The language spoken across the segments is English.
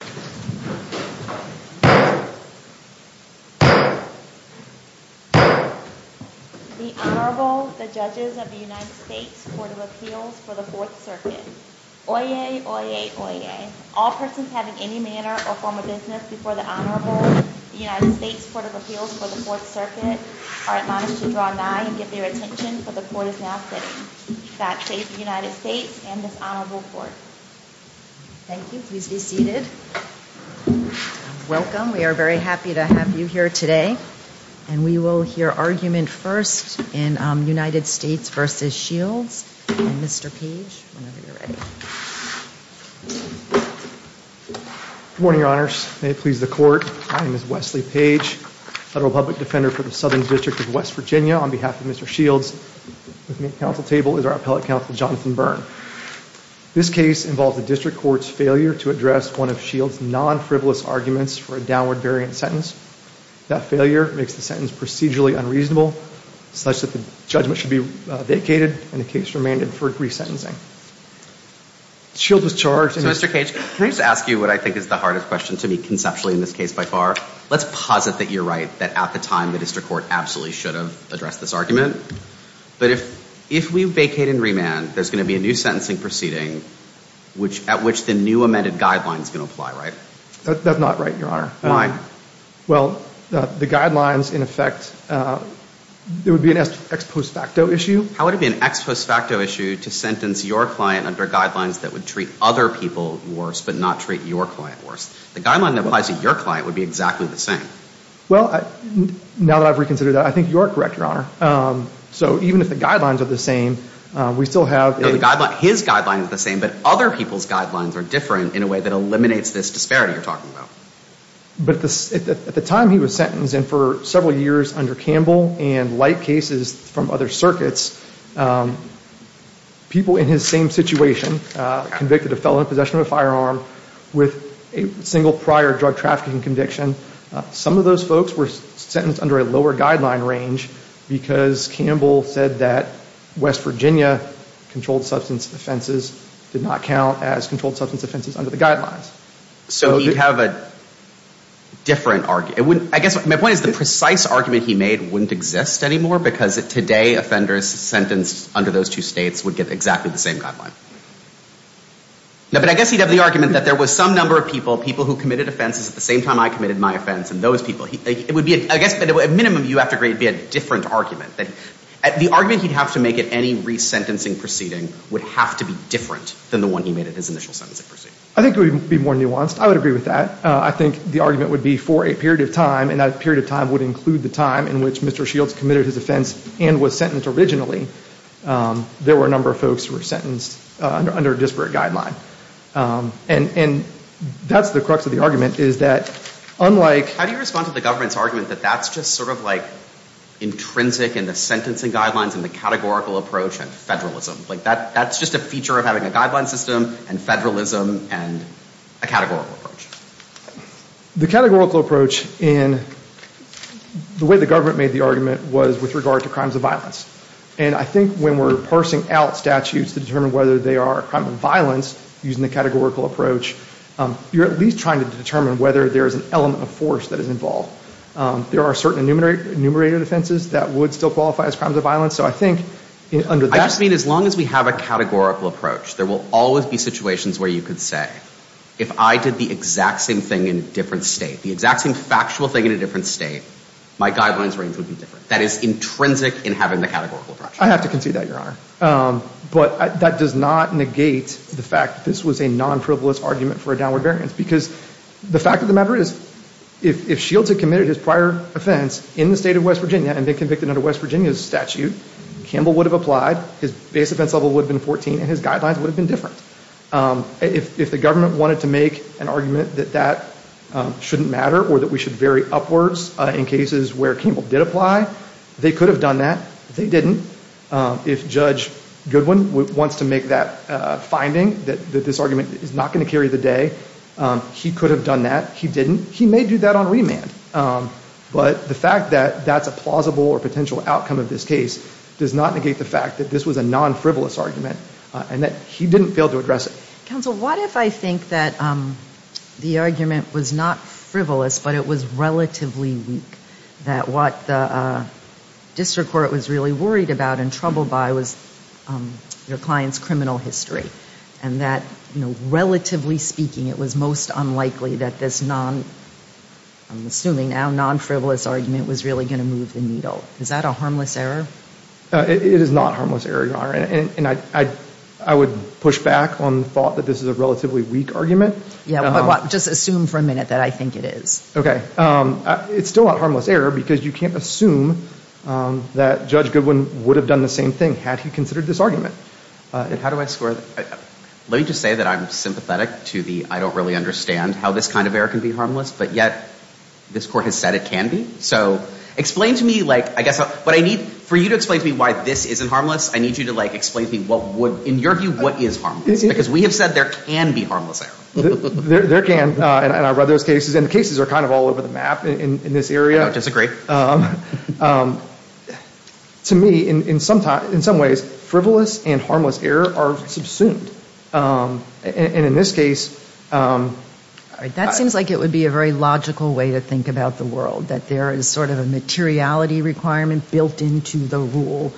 The Honorable, the Judges of the United States Court of Appeals for the Fourth Circuit. Oyez, oyez, oyez. All persons having any manner or form of business before the Honorable, the United States Court of Appeals for the Fourth Circuit, are admonished to draw nigh and give their attention for the Court is now sitting. God save the United States and the Honorable Court. Thank you. Please be seated. Welcome. We are very happy to have you here today. And we will hear argument first in United States v. Shields. And Mr. Page, whenever you're ready. Good morning, Your Honors. May it please the Court, my name is Wesley Page, Federal Public Defender for the Southern District of West Virginia. On this case involves a district court's failure to address one of Shields' non-frivolous arguments for a downward variant sentence. That failure makes the sentence procedurally unreasonable, such that the judgment should be vacated and the case remanded for resentencing. Shields was charged and Mr. Page, can I just ask you what I think is the hardest question to me conceptually in this case by far? Let's posit that you're right, that at the time the district court absolutely should have addressed this argument. But if we vacate and remand, there's going to be a new sentencing proceeding at which the new amended guidelines can apply, right? That's not right, Your Honor. Why? Well, the guidelines in effect, it would be an ex post facto issue. How would it be an ex post facto issue to sentence your client under guidelines that would treat other people worse but not treat your client worse? The guideline that applies to your client would be exactly the same. Well, now that I've reconsidered that, I think you are correct, Your Honor. So even if the guidelines are the same, we still have... His guideline is the same, but other people's guidelines are different in a way that eliminates this disparity you're talking about. But at the time he was sentenced and for several years under Campbell and like cases from other circuits, people in his same situation convicted of felon possession of a firearm with a single prior drug trafficking conviction, some of those folks were sentenced under a lower guideline range because Campbell said that West Virginia controlled substance offenses did not count as controlled substance offenses under the guidelines. So you have a different... I guess my point is the precise argument he made wouldn't exist anymore because today offenders sentenced under those two states would get exactly the same guideline. But I guess he'd have the argument that there were a number of people, people who committed offenses at the same time I committed my offense and those people... I guess at minimum you have to agree it would be a different argument. The argument he'd have to make at any resentencing proceeding would have to be different than the one he made at his initial sentencing proceeding. I think it would be more nuanced. I would agree with that. I think the argument would be for a period of time and that period of time would include the time in which Mr. Shields committed his offense and was sentenced originally, there were a number of folks who were sentenced under a disparate guideline. And that's the crux of the argument is that unlike... How do you respond to the government's argument that that's just sort of like intrinsic in the sentencing guidelines and the categorical approach and federalism? Like that's just a feature of having a guideline system and federalism and a categorical approach. The categorical approach in the way the government made the argument was with regard to crimes of violence. And I think when we're parsing out statutes to determine whether they are crimes of violence using the categorical approach, you're at least trying to determine whether there is an element of force that is involved. There are certain enumerated offenses that would still qualify as crimes of violence. So I think under that... I just mean as long as we have a categorical approach, there will always be situations where you could say if I did the exact same thing in a different state, the exact same factual thing in a different state, my guidelines range would be different. That is intrinsic in having the categorical approach. I have to concede that, Your Honor. But that does not negate the fact that this was a non-privileged argument for a downward variance. Because the fact of the matter is if Shields had committed his prior offense in the state of West Virginia and been convicted under West Virginia's statute, Campbell would have applied, his base offense level would have been 14 and his guidelines would have been different. If the government wanted to make an argument that that shouldn't matter or that we should vary upwards in cases where Campbell did apply, they could have done that. They didn't. If Judge Goodwin wants to make that finding that this argument is not going to carry the day, he could have done that. He didn't. He may do that on remand. But the fact that that's a plausible or potential outcome of this case does not negate the fact that this was a non-frivolous argument and that he didn't fail to address it. Counsel, what if I think that the argument was not frivolous but it was relatively weak? That what the district court was really worried about and troubled by was your client's criminal history. And that, you know, relatively speaking, it was most unlikely that this non-frivolous argument was really going to move the needle. Is that a harmless error? It is not a harmless error, Your Honor. And I would push back on the thought that this is a relatively weak argument. Just assume for a minute that I think it is. Okay. It's still not a harmless error because you can't assume that Judge Goodwin would have done the same thing had he considered this argument. How do I square that? Let me just say that I'm sympathetic to the I don't really understand how this kind of error can be harmless, but yet this court has said it can be. So explain to me, like, I guess what I need, for you to explain to me why this isn't harmless, I need you to, like, explain to me what would, in your view, what is harmless? Because we have said there can be harmless error. There can. And I read those cases. And the cases are kind of all over the map in this area. I don't disagree. To me, in some ways, frivolous and harmless error are subsumed. And in this case... All right. That seems like it would be a very logical way to think about the world, that there is sort of a materiality requirement built into the rule.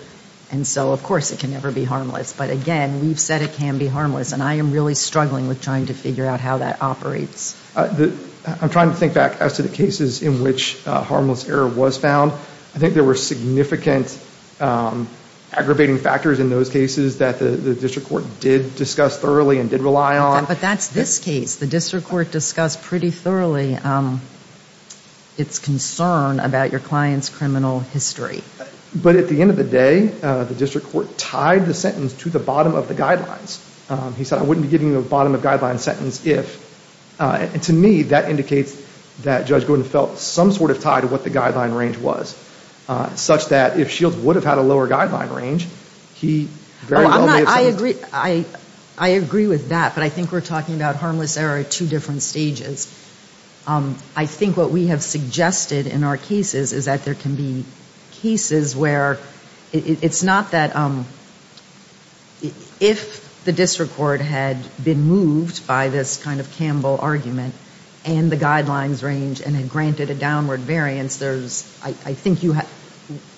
And so, of course, it can never be harmless. But, again, we've said it can be harmless. And I am really struggling with trying to figure out how that operates. I'm trying to think back as to the cases in which harmless error was found. I think there were significant aggravating factors in those cases that the district court did discuss thoroughly and did rely on. But that's this case. The district court discussed pretty thoroughly its concern about your client's criminal history. But at the end of the day, the district court tied the sentence to the bottom of the guidelines. He said, I wouldn't be giving you a bottom of guidelines sentence if... And to me, that indicates that Judge Gordon felt some sort of tie to what the guideline range was, such that if Shields would have had a lower guideline range, he very well may have... I agree with that. But I think we're talking about harmless error at two different stages. I think what we have suggested in our cases is that there can be cases where it's not that... If the district court had been moved by this kind of Campbell argument and the guidelines range and had granted a downward variance, I think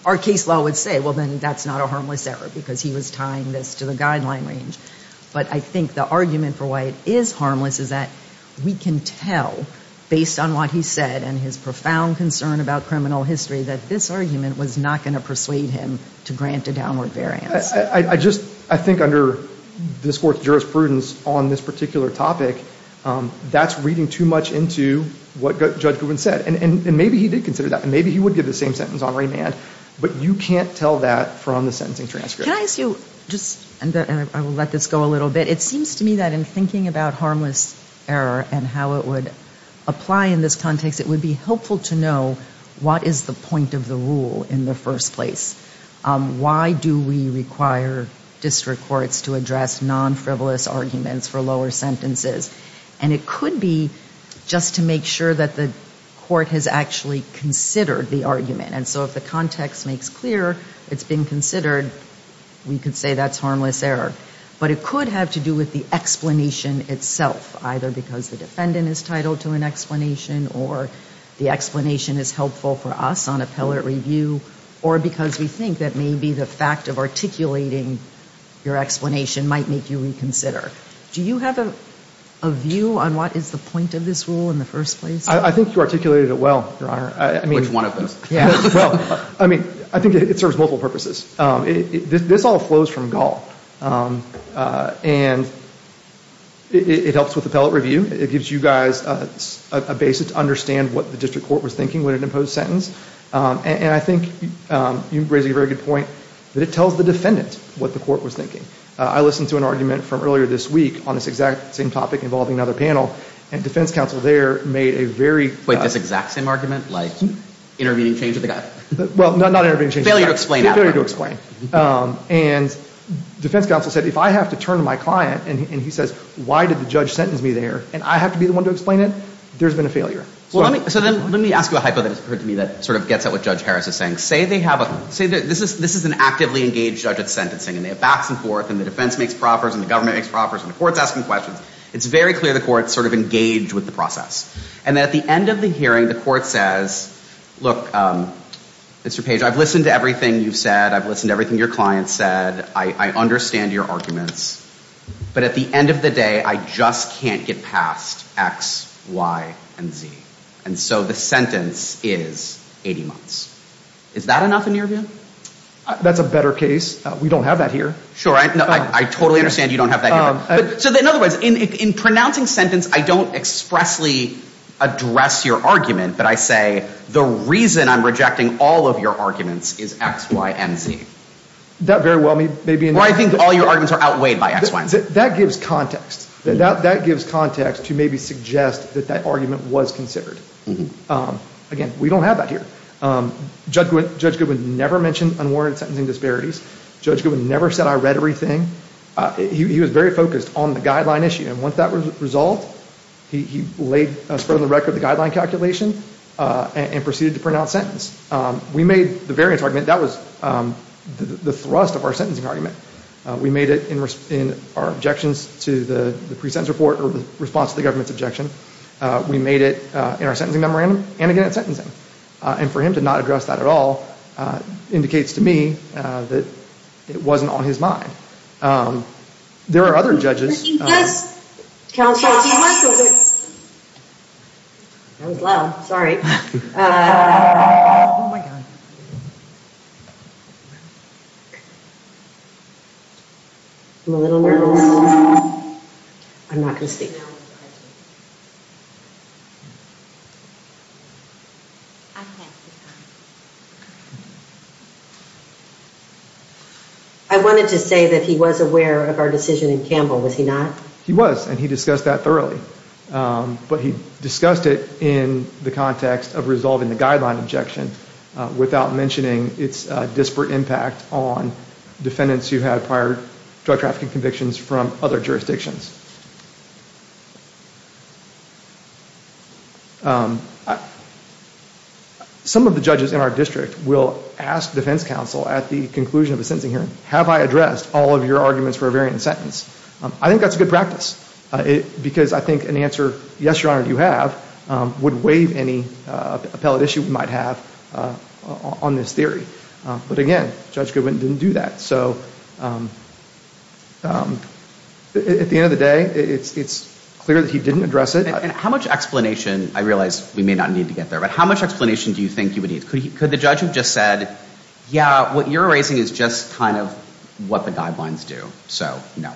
our case law would say, well, then that's not a harmless error because he was tying this to the guideline range. But I think the argument for why it is harmless is that we can tell, based on what he said and his profound concern about criminal history, that this argument was not going to persuade him to grant a downward variance. I think under this Court's jurisprudence on this particular topic, that's reading too much into what Judge Grubin said. And maybe he did consider that. Maybe he would give the same sentence on remand. But you can't tell that from the sentencing transcript. Can I ask you just... I will let this go a little bit. It seems to me that in thinking about harmless error and how it would apply in this context, it would be helpful to know what is the point of the rule in the first place. Why do we require district courts to address non-frivolous arguments for lower sentences? And it could be just to make sure that the court has actually considered the argument. And so if the context makes clear it's been considered, we could say that's harmless error. But it could have to do with the explanation itself, either because the defendant is titled to an explanation or the explanation is helpful for us on appellate review, or because we think that maybe the fact of articulating your explanation might make you reconsider. Do you have a view on what is the point of this rule in the first place? I think you articulated it well, Your Honor. Which one of those? Well, I mean, I think it serves multiple purposes. This all flows from Gall. And it helps with appellate review. It gives you guys a basis to understand what the district court was thinking with an imposed sentence. And I think you raise a very good point that it tells the defendant what the court was thinking. I listened to an argument from earlier this week on this exact same topic involving another panel, and defense counsel there made a very... Was it this exact same argument, like intervening change of the gut? Well, not intervening change of the gut. Failure to explain. Failure to explain. And defense counsel said, if I have to turn to my client and he says, why did the judge sentence me there and I have to be the one to explain it, there's been a failure. So then let me ask you a hypo that has occurred to me that sort of gets at what Judge Harris is saying. Say they have a... Say this is an actively engaged judge at sentencing and they have backs and forth and the defense makes proffers and the government makes proffers and the court's asking questions. It's very clear the court's sort of engaged with the process. And at the end of the hearing, the court says, look, Mr. Page, I've listened to everything you've said. I've listened to everything your client said. I understand your arguments. But at the end of the day, I just can't get past X, Y, and Z. And so the sentence is 80 months. Is that enough in your view? That's a better case. We don't have that here. Sure. I totally understand you don't have that here. So in other words, in pronouncing sentence, I don't expressly address your argument, but I say the reason I'm rejecting all of your arguments is X, Y, and Z. That very well may be... Or I think all your arguments are outweighed by X, Y, and Z. That gives context. That gives context to maybe suggest that that argument was considered. Again, we don't have that here. Judge Goodwin never mentioned unwarranted sentencing disparities. Judge Goodwin never said I read everything. He was very focused on the guideline issue. And once that was resolved, he spread on the record the guideline calculation and proceeded to pronounce sentence. We made the variance argument. That was the thrust of our sentencing argument. We made it in our objections to the pre-sentence report or the response to the government's objection. We made it in our sentencing memorandum and again at sentencing. And for him to not address that at all indicates to me that it wasn't on his mind. There are other judges... Counsel. That was loud. I'm a little nervous. I'm not going to speak now. I wanted to say that he was aware of our decision in Campbell. Was he not? He was, and he discussed that thoroughly. But he discussed it in the context of resolving the guideline objection without mentioning its disparate impact on defendants who had prior drug trafficking convictions from other jurisdictions. Some of the judges in our district will ask defense counsel at the conclusion of a sentencing hearing, have I addressed all of your arguments for a variant sentence? I think that's a good practice because I think an answer, yes, Your Honor, you have, would waive any appellate issue we might have on this theory. But again, Judge Goodwin didn't do that. So at the end of the day, it's clear that he didn't address it. And how much explanation, I realize we may not need to get there, but how much explanation do you think you would need? Could the judge have just said, yeah, what you're raising is just kind of what the guidelines do. So, no.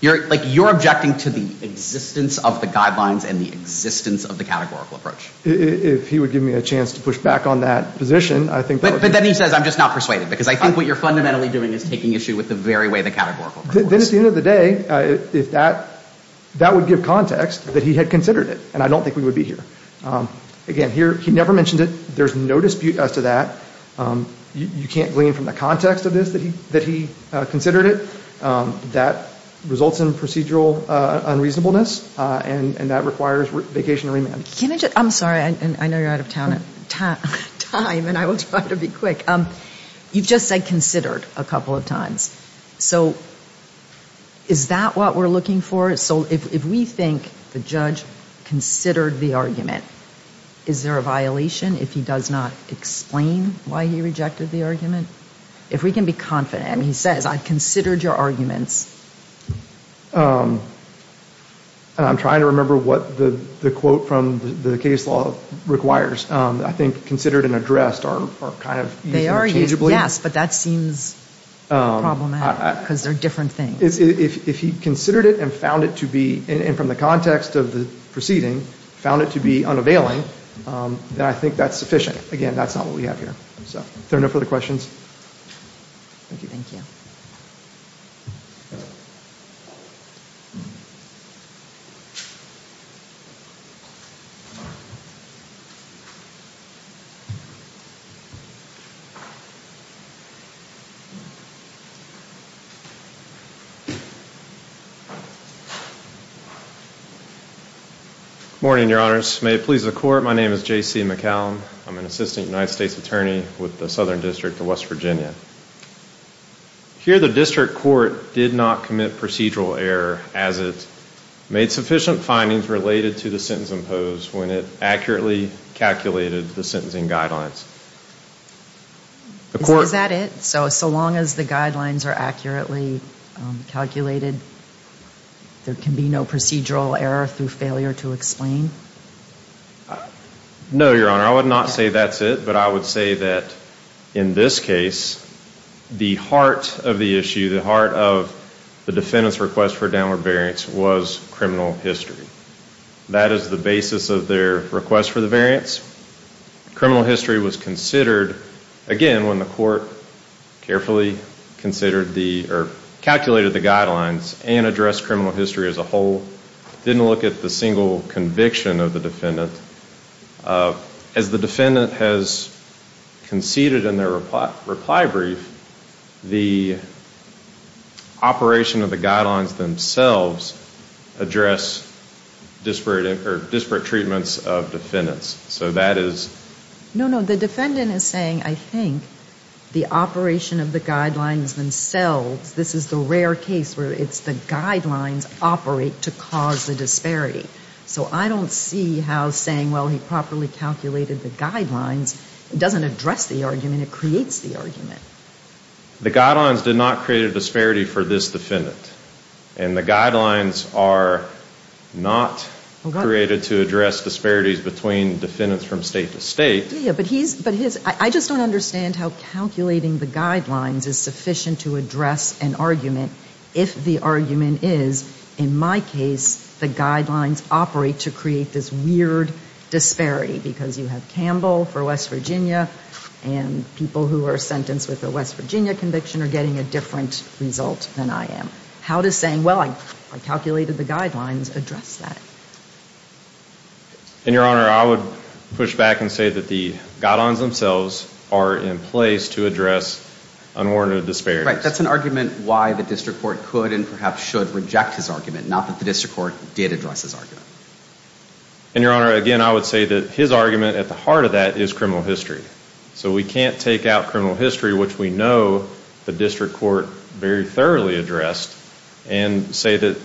You're, like, you're objecting to the existence of the guidelines and the existence of the categorical approach. If he would give me a chance to push back on that position, I think that would be... But then he says, I'm just not persuaded, because I think what you're fundamentally doing is taking issue with the very way the categorical approach is. Then at the end of the day, if that, that would give context that he had considered it, and I don't think we would be here. Again, here, he never mentioned it. There's no dispute as to that. You can't glean from the context of this that he considered it. That results in procedural unreasonableness, and that requires vacation and remand. Can I just... I'm sorry. I know you're out of time, and I will try to be quick. You've just said considered a couple of times. So is that what we're looking for? So if we think the judge considered the argument, is there a violation if he does not explain why he rejected the argument? If we can be confident. I mean, he says, I considered your arguments. I'm trying to remember what the quote from the case law requires. I think considered and addressed are kind of used interchangeably. They are used, yes, but that seems problematic, because they're different things. If he considered it and found it to be, and from the context of the proceeding, found it to be unavailing, then I think that's sufficient. Again, that's not what we have here. So are there no further questions? Thank you. Good morning, Your Honors. May it please the Court. My name is J.C. McCallum. I'm an assistant United States attorney with the Southern District of West Virginia. Here the district court did not commit procedural error as it made sufficient findings related to the sentence imposed when it accurately calculated the sentencing guidelines. Is that it? So as long as the guidelines are accurately calculated, there can be no procedural error through failure to explain? No, Your Honor. I would not say that's it, but I would say that in this case, the heart of the issue, the heart of the defendant's request for a downward variance was criminal history. That is the basis of their request for the variance. Criminal history was considered, again, when the court carefully calculated the guidelines and addressed criminal history as a whole, didn't look at the single conviction of the defendant. As the defendant has conceded in their reply brief, the operation of the guidelines themselves address disparate treatments of defendants. So that is? No, no. The defendant is saying, I think, the operation of the guidelines themselves, this is the rare case where it's the guidelines operate to cause the disparity. So I don't see how saying, well, he properly calculated the guidelines, doesn't address the argument, it creates the argument. The guidelines did not create a disparity for this defendant. And the guidelines are not created to address disparities between defendants from state to state. Yeah, but his, I just don't understand how calculating the guidelines is sufficient to address an argument if the argument is, in my case, the guidelines operate to create this weird disparity. Because you have Campbell for West Virginia, and people who are sentenced with a West Virginia conviction are getting a different result than I am. How does saying, well, I calculated the guidelines, address that? And, Your Honor, I would push back and say that the guidelines themselves are in place to address unwarranted disparities. Right, that's an argument why the district court could and perhaps should reject his argument, not that the district court did address his argument. And, Your Honor, again, I would say that his argument at the heart of that is criminal history. So we can't take out criminal history, which we know the district court very thoroughly addressed, and say that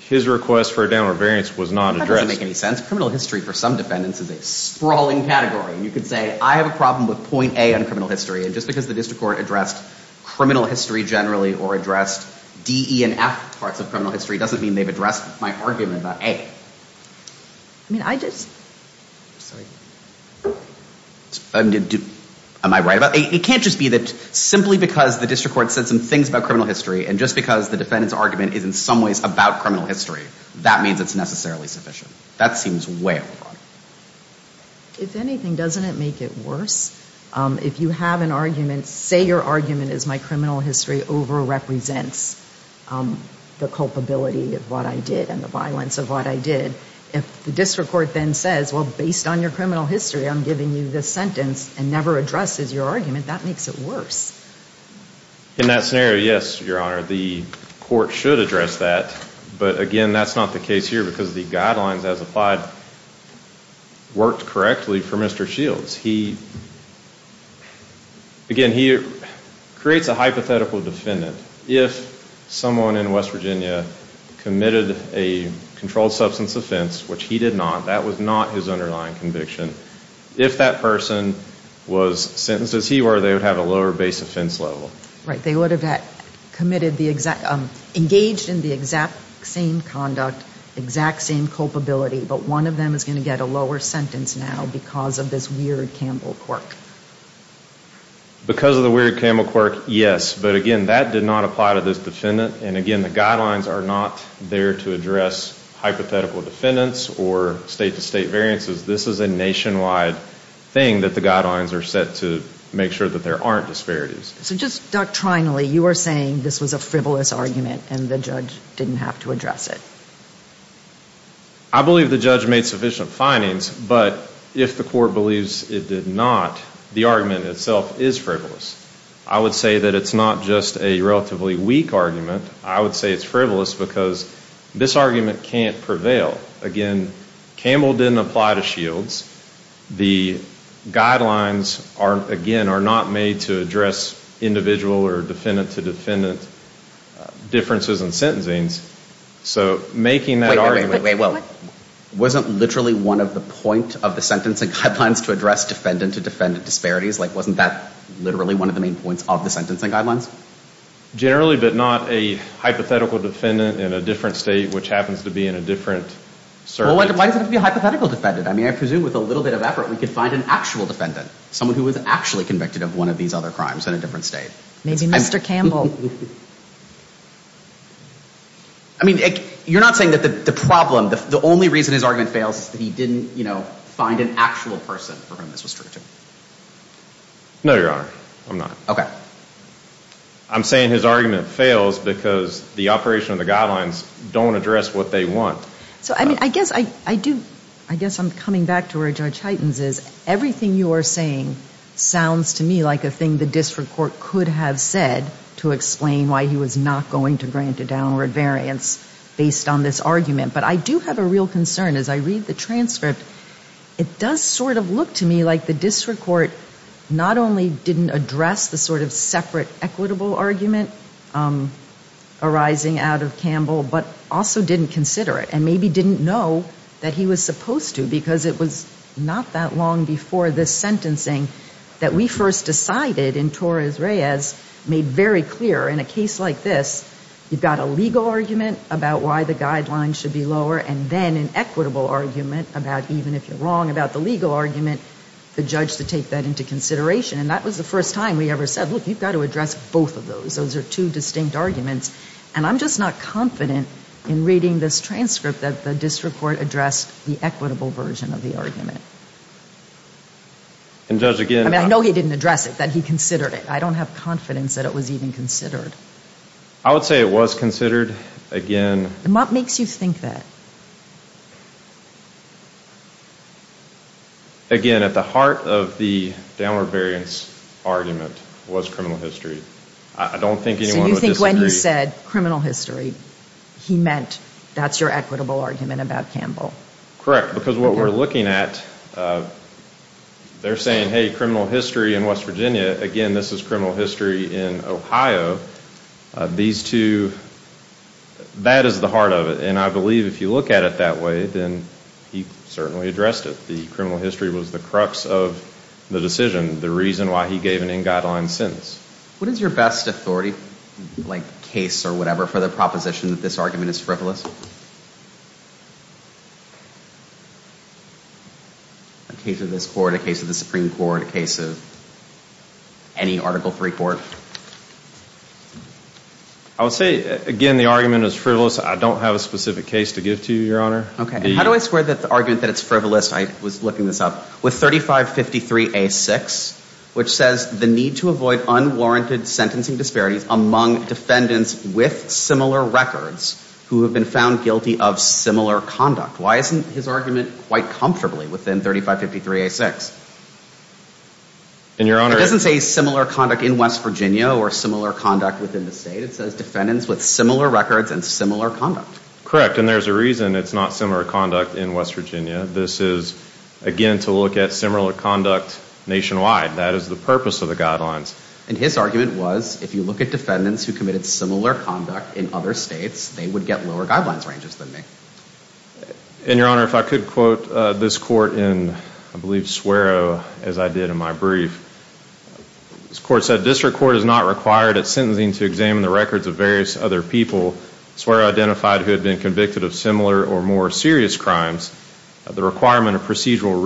his request for a downward variance was not addressed. That doesn't make any sense. Criminal history for some defendants is a sprawling category. You could say, I have a problem with point A on criminal history, and just because the district court addressed criminal history generally or addressed D, E, and F parts of criminal history doesn't mean they've addressed my argument about A. I mean, I just... Am I right about that? It can't just be that simply because the district court said some things about criminal history and just because the defendant's argument is in some ways about criminal history, that means it's necessarily sufficient. That seems way over the top. If anything, doesn't it make it worse? If you have an argument, say your argument is my criminal history overrepresents the culpability of what I did and the violence of what I did. If the district court then says, well, based on your criminal history, I'm giving you this sentence and never addresses your argument, that makes it worse. In that scenario, yes, Your Honor, the court should address that. But, again, that's not the case here because the guidelines as applied worked correctly for Mr. Shields. He, again, he creates a hypothetical defendant. If someone in West Virginia committed a controlled substance offense, which he did not, that was not his underlying conviction, if that person was sentenced as he were, they would have a lower base offense level. Right. They would have engaged in the exact same conduct, exact same culpability, but one of them is going to get a lower sentence now because of this weird Campbell quirk. Because of the weird Campbell quirk, yes. But, again, that did not apply to this defendant. And, again, the guidelines are not there to address hypothetical defendants or state-to-state variances. This is a nationwide thing that the guidelines are set to make sure that there aren't disparities. So just doctrinally, you are saying this was a frivolous argument and the judge didn't have to address it. I believe the judge made sufficient findings, but if the court believes it did not, the argument itself is frivolous. I would say that it's not just a relatively weak argument. I would say it's frivolous because this argument can't prevail. Again, Campbell didn't apply to Shields. The guidelines, again, are not made to address individual or defendant-to-defendant differences in sentencing. So making that argument... Wait, wait, wait. Wasn't literally one of the points of the sentencing guidelines to address defendant-to-defendant disparities? Like, wasn't that literally one of the main points of the sentencing guidelines? Generally, but not a hypothetical defendant in a different state which happens to be in a different circuit. Well, why does it have to be a hypothetical defendant? I mean, I presume with a little bit of effort we could find an actual defendant, someone who was actually convicted of one of these other crimes in a different state. Maybe Mr. Campbell. I mean, you're not saying that the problem, the only reason his argument fails is that he didn't, you know, find an actual person for whom this was true? No, Your Honor. I'm not. I'm saying his argument fails because the operation of the guidelines don't address what they want. So, I mean, I guess I do, I guess I'm coming back to where Judge Hytens is. Everything you are saying sounds to me like a thing the district court could have said to explain why he was not going to grant a downward variance based on this argument. But I do have a real concern. As I read the transcript, it does sort of look to me like the district court not only didn't address the sort of separate equitable argument arising out of Campbell, but also didn't consider it and maybe didn't know that he was supposed to because it was not that long before this sentencing that we first decided in Torres Reyes, made very clear in a case like this, you've got a legal argument about why the guidelines should be lower and then an equitable argument about, even if you're wrong about the legal argument, the judge to take that into consideration. And that was the first time we ever said, look, you've got to address both of those. Those are two distinct arguments. And I'm just not confident in reading this transcript that the district court addressed the equitable version of the argument. I mean, I know he didn't address it, that he considered it. I don't have confidence that it was even considered. I would say it was considered. And what makes you think that? Again, at the heart of the downward variance argument was criminal history. I don't think anyone would disagree. So you think when he said criminal history, he meant that's your equitable argument about Campbell? Correct, because what we're looking at, they're saying, hey, criminal history in West Virginia. Again, this is criminal history in Ohio. These two, that is the heart of it. And I believe if you look at it that way, then he certainly addressed it. The criminal history was the crux of the decision, the reason why he gave an in-guideline sentence. What is your best authority, like case or whatever, for the proposition that this argument is frivolous? A case of this court, a case of the Supreme Court, a case of any Article III court? I would say, again, the argument is frivolous. I don't have a specific case to give to you, Your Honor. Okay, and how do I square the argument that it's frivolous, I was looking this up, with 3553A6, which says the need to avoid unwarranted sentencing disparities among defendants with similar records who have been found guilty of similar conduct. Why isn't his argument quite comfortably within 3553A6? It doesn't say similar conduct in West Virginia or similar conduct within the state. It says defendants with similar records and similar conduct. Correct, and there's a reason it's not similar conduct in West Virginia. This is, again, to look at similar conduct nationwide. That is the purpose of the guidelines. And his argument was, if you look at defendants who committed similar conduct in other states, they would get lower guidelines ranges than me. And, Your Honor, if I could quote this court in, I believe, Swerow, as I did in my brief. This court said, District Court is not required at sentencing to examine the records of various other people. Swerow identified who had been convicted of similar or more serious crimes. The requirement of procedural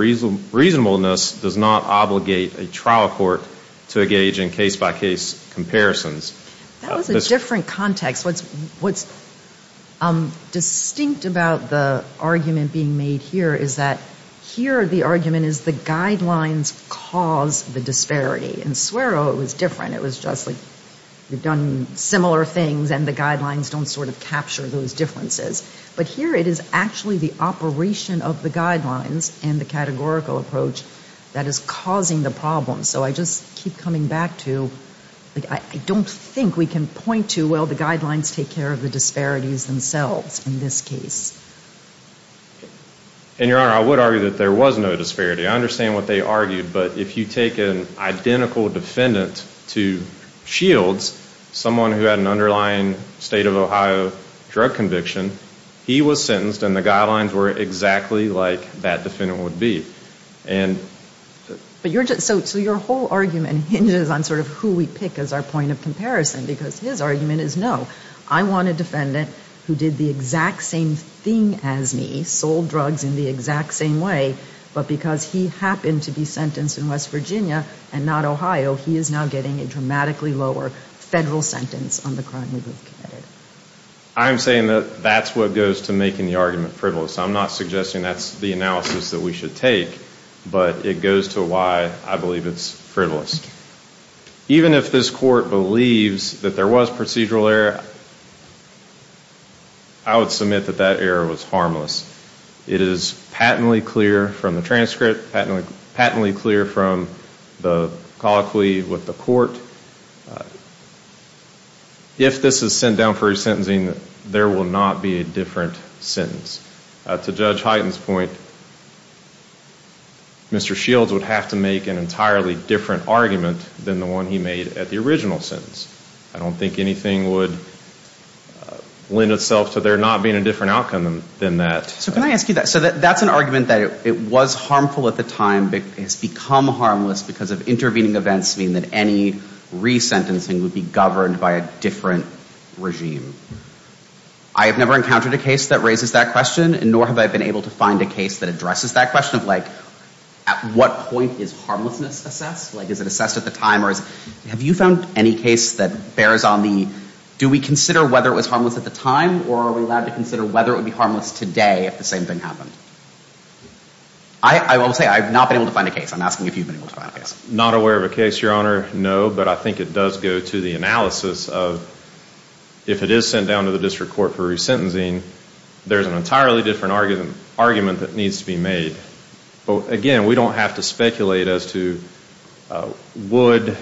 reasonableness does not obligate a trial court to engage in case-by-case comparisons. That was a different context. What's distinct about the argument being made here is that here the argument is the guidelines cause the disparity. In Swerow it was different. It was just like we've done similar things and the guidelines don't sort of capture those differences. But here it is actually the operation of the guidelines and the categorical approach that is causing the problem. So I just keep coming back to, I don't think we can point to, well, the guidelines take care of the disparities themselves in this case. And, Your Honor, I would argue that there was no disparity. I understand what they argued. But if you take an identical defendant to Shields, someone who had an underlying State of Ohio drug conviction, he was sentenced and the guidelines were exactly like that defendant would be. So your whole argument hinges on sort of who we pick as our point of comparison because his argument is no. I want a defendant who did the exact same thing as me, sold drugs in the exact same way, but because he happened to be sentenced in West Virginia and not Ohio, he is now getting a dramatically lower Federal sentence on the crime he committed. I'm saying that that's what goes to making the argument frivolous. I'm not suggesting that's the analysis that we should take, but it goes to why I believe it's frivolous. Even if this Court believes that there was procedural error, I would submit that that error was harmless. It is patently clear from the transcript, patently clear from the colloquy with the Court. If this is sent down for resentencing, there will not be a different sentence. To Judge Hyten's point, Mr. Shields would have to make an entirely different argument than the one he made at the original sentence. I don't think anything would lend itself to there not being a different outcome than that. So can I ask you that? So that's an argument that it was harmful at the time but has become harmless because of intervening events meaning that any resentencing would be governed by a different regime. I have never encountered a case that raises that question, nor have I been able to find a case that addresses that question of like at what point is harmlessness assessed? Like is it assessed at the time? Have you found any case that bears on the do we consider whether it was harmless at the time or are we allowed to consider whether it would be harmless today if the same thing happened? I will say I have not been able to find a case. I'm asking if you've been able to find a case. Not aware of a case, Your Honor, no, but I think it does go to the analysis of if it is sent down to the District Court for resentencing, there's an entirely different argument that needs to be made. Again, we don't have to speculate as to would,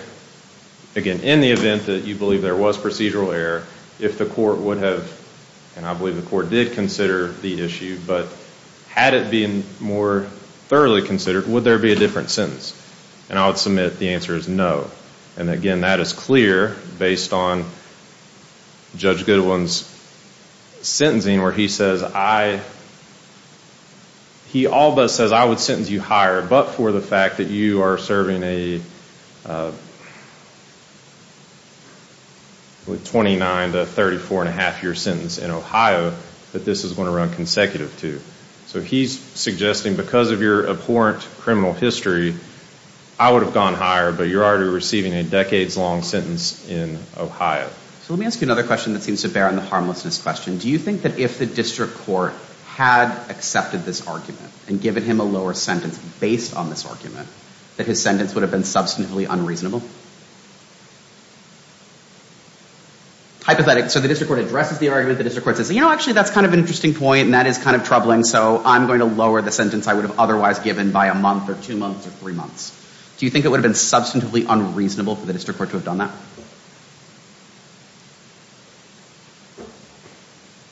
again, in the event that you believe there was procedural error, if the court would have, and I believe the court did consider the issue, but had it been more thoroughly considered, would there be a different sentence? And I would submit the answer is no. And again, that is clear based on Judge Goodwin's sentencing where he says I, he all but says I would sentence you higher but for the fact that you are serving a 29 to 34 and a half year sentence in Ohio that this is going to run consecutive to. So he's suggesting because of your abhorrent criminal history, I would have gone higher but you're already receiving a decades-long sentence in Ohio. So let me ask you another question that seems to bear on the harmlessness question. Do you think that if the District Court had accepted this argument and given him a lower sentence based on this argument, that his sentence would have been substantively unreasonable? Hypothetically, so the District Court addresses the argument, the District Court says, you know, actually, that's kind of an interesting point and that is kind of troubling, so I'm going to lower the sentence I would have otherwise given by a month or two months or three months. Do you think it would have been substantively unreasonable for the District Court to have done that?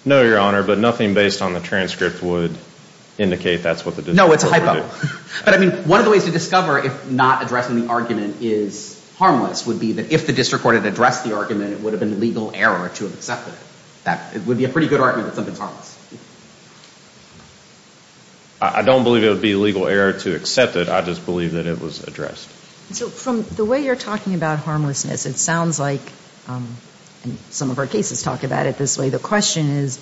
No, Your Honor, but nothing based on the transcript would indicate that's what the District Court would do. No, it's a hypo. But I mean, one of the ways to discover if not addressing the argument is harmless would be that if the District Court had addressed the argument, it would have been a legal error to have accepted it. It would be a pretty good argument that something's harmless. I don't believe it would be a legal error to accept it. I just believe that it was addressed. So from the way you're talking about harmlessness, it sounds like, and some of our cases talk about it this way, the question is,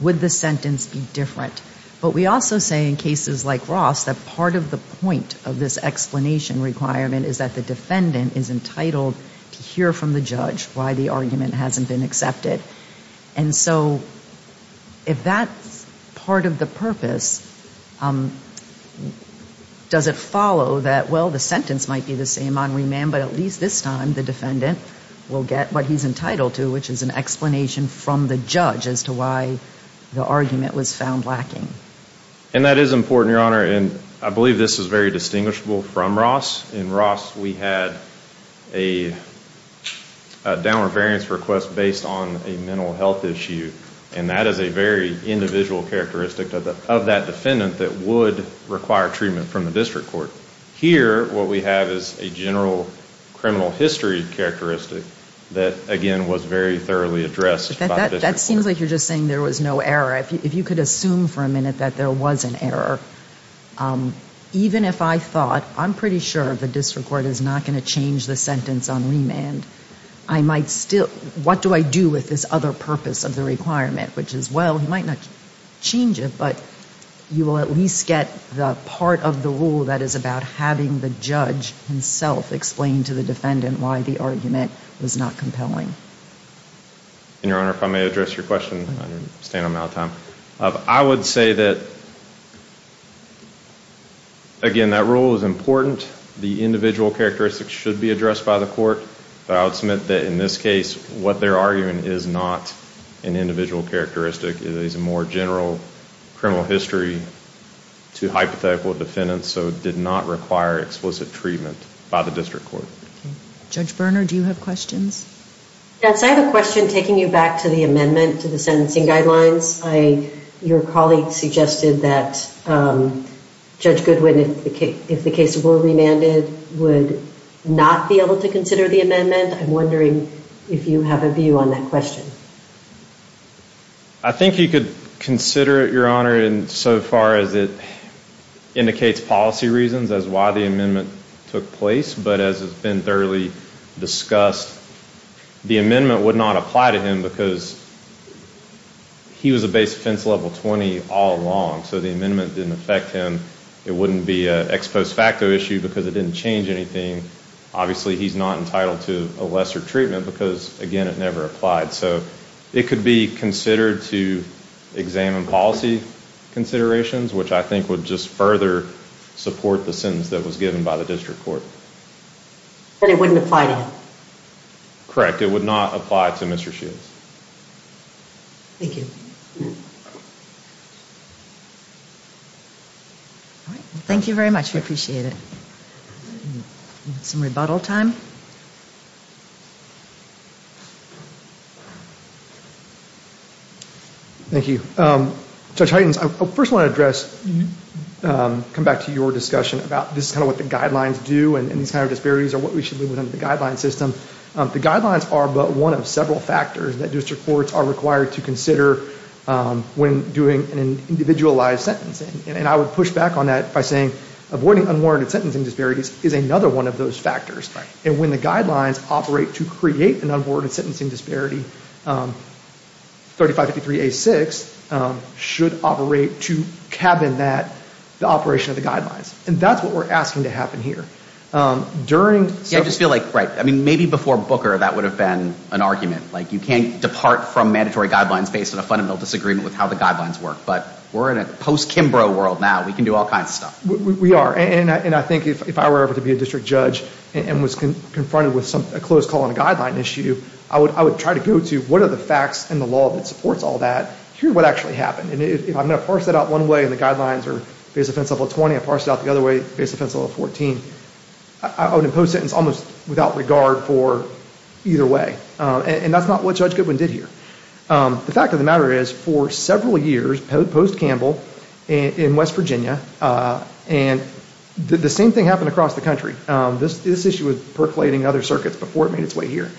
would the sentence be different? But we also say in cases like Ross that part of the point of this explanation requirement is that the defendant is entitled to hear from the judge why the argument hasn't been accepted. And so if that's part of the purpose, does it follow that, well, the sentence might be the same on remand, but at least this time the defendant will get what he's entitled to, which is an explanation from the judge as to why the argument was found lacking? And that is important, Your Honor, and I believe this is very distinguishable from Ross. In Ross we had a downward variance request based on a mental health issue, and that is a very individual characteristic of that defendant that would require treatment from the district court. Here what we have is a general criminal history characteristic that, again, was very thoroughly addressed by the district court. That seems like you're just saying there was no error. If you could assume for a minute that there was an error. Even if I thought, I'm pretty sure the district court is not going to change the sentence on remand, I might still, what do I do with this other purpose of the requirement, which is, well, he might not change it, but you will at least get the part of the rule that is about having the judge himself explain to the defendant why the argument was not compelling. And, Your Honor, if I may address your question, I understand I'm out of time. I would say that, again, that rule is important. The individual characteristics should be addressed by the court, but I would submit that in this case what they're arguing is not an individual characteristic. It is a more general criminal history to hypothetical defendants so it did not require explicit treatment by the district court. Judge Berner, do you have questions? Yes, I have a question taking you back to the amendment to the sentencing guidelines. Your colleague suggested that Judge Goodwin, if the case were remanded, would not be able to consider the amendment. I'm wondering if you have a view on that question. I think he could consider it, Your Honor, insofar as it indicates policy reasons as to why the amendment took place, but as has been thoroughly discussed, the amendment would not apply to him because he was a base offense level 20 all along, so the amendment didn't affect him. It wouldn't be an ex post facto issue because it didn't change anything. Obviously, he's not entitled to a lesser treatment because, again, it never applied. So it could be considered to examine policy considerations, which I think would just further support the sentence that was given by the district court. But it wouldn't apply to him? Correct. It would not apply to Mr. Shields. Thank you. Thank you very much. We appreciate it. Some rebuttal time? Thank you. Judge Huygens, I first want to address, come back to your discussion about this is kind of what the guidelines do and these kind of disparities are what we should leave within the guideline system. The guidelines are but one of several factors that district courts are required to consider when doing an individualized sentencing. And I would push back on that by saying avoiding unwarranted sentencing disparities is another one of those factors. And when the guidelines operate to create an unwarranted sentencing disparity, 3553A6 should operate to cabin that, the operation of the guidelines. And that's what we're asking to happen here. I just feel like, right, maybe before Booker that would have been an argument. Like you can't depart from mandatory guidelines based on a fundamental disagreement with how the guidelines work. But we're in a post-Kimbrough world now. We can do all kinds of stuff. We are. And I think if I were ever to be a district judge and was confronted with a closed call on a guideline issue, I would try to go to what are the facts and the law that supports all that. Here's what actually happened. And if I'm going to parse that out one way and the guidelines are base offense level 20, I parse it out the other way, base offense level 14, I would impose a sentence almost without regard for either way. And that's not what Judge Goodwin did here. The fact of the matter is for several years post-Campbell in West Virginia, and the same thing happened across the country. This issue was percolating in other circuits before it made its way here.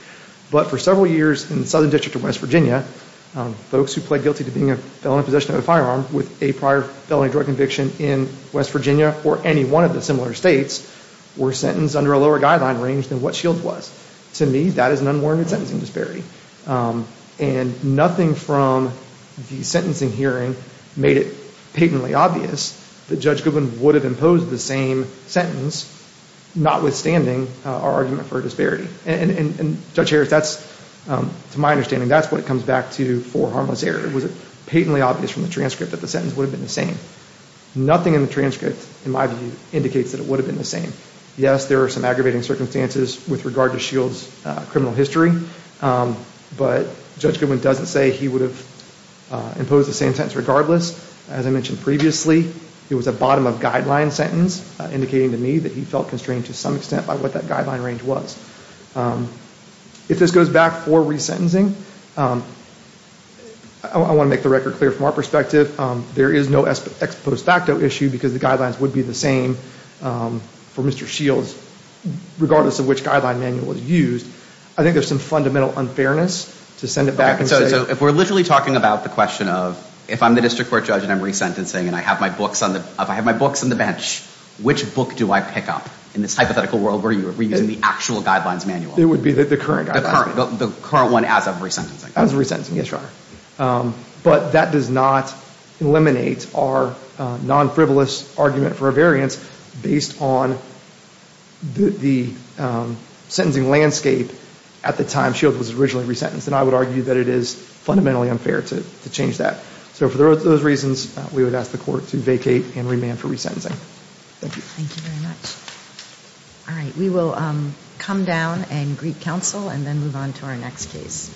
But for several years in the Southern District of West Virginia, folks who pled guilty to being a felon in possession of a firearm with a prior felony drug conviction in West Virginia or any one of the similar states were sentenced under a lower guideline range than what Shields was. To me, that is an unwarranted sentencing disparity. And nothing from the sentencing hearing made it patently obvious that Judge Goodwin would have imposed the same sentence notwithstanding our argument for a disparity. And Judge Harris, to my understanding, that's what it comes back to for harmless error. It was patently obvious from the transcript that the sentence would have been the same. Nothing in the transcript, in my view, indicates that it would have been the same. Yes, there are some aggravating circumstances with regard to Shields' criminal history, but Judge Goodwin doesn't say he would have imposed the same sentence regardless. As I mentioned previously, it was a bottom of guideline sentence indicating to me that he felt constrained to some extent by what that guideline range was. If this goes back for resentencing, I want to make the record clear from our perspective, there is no ex post facto issue because the guidelines would be the same for Mr. Shields, regardless of which guideline manual was used. I think there's some fundamental unfairness to send it back and say— Okay, so if we're literally talking about the question of if I'm the district court judge and I'm resentencing and I have my books on the bench, which book do I pick up in this hypothetical world where you're reusing the actual guidelines manual? It would be the current guidelines manual. The current one as of resentencing. As of resentencing, yes, Your Honor. But that does not eliminate our non-frivolous argument for a variance based on the sentencing landscape at the time Shields was originally resentenced, and I would argue that it is fundamentally unfair to change that. So for those reasons, we would ask the court to vacate and remand for resentencing. Thank you very much. All right. We will come down and greet counsel and then move on to our next case.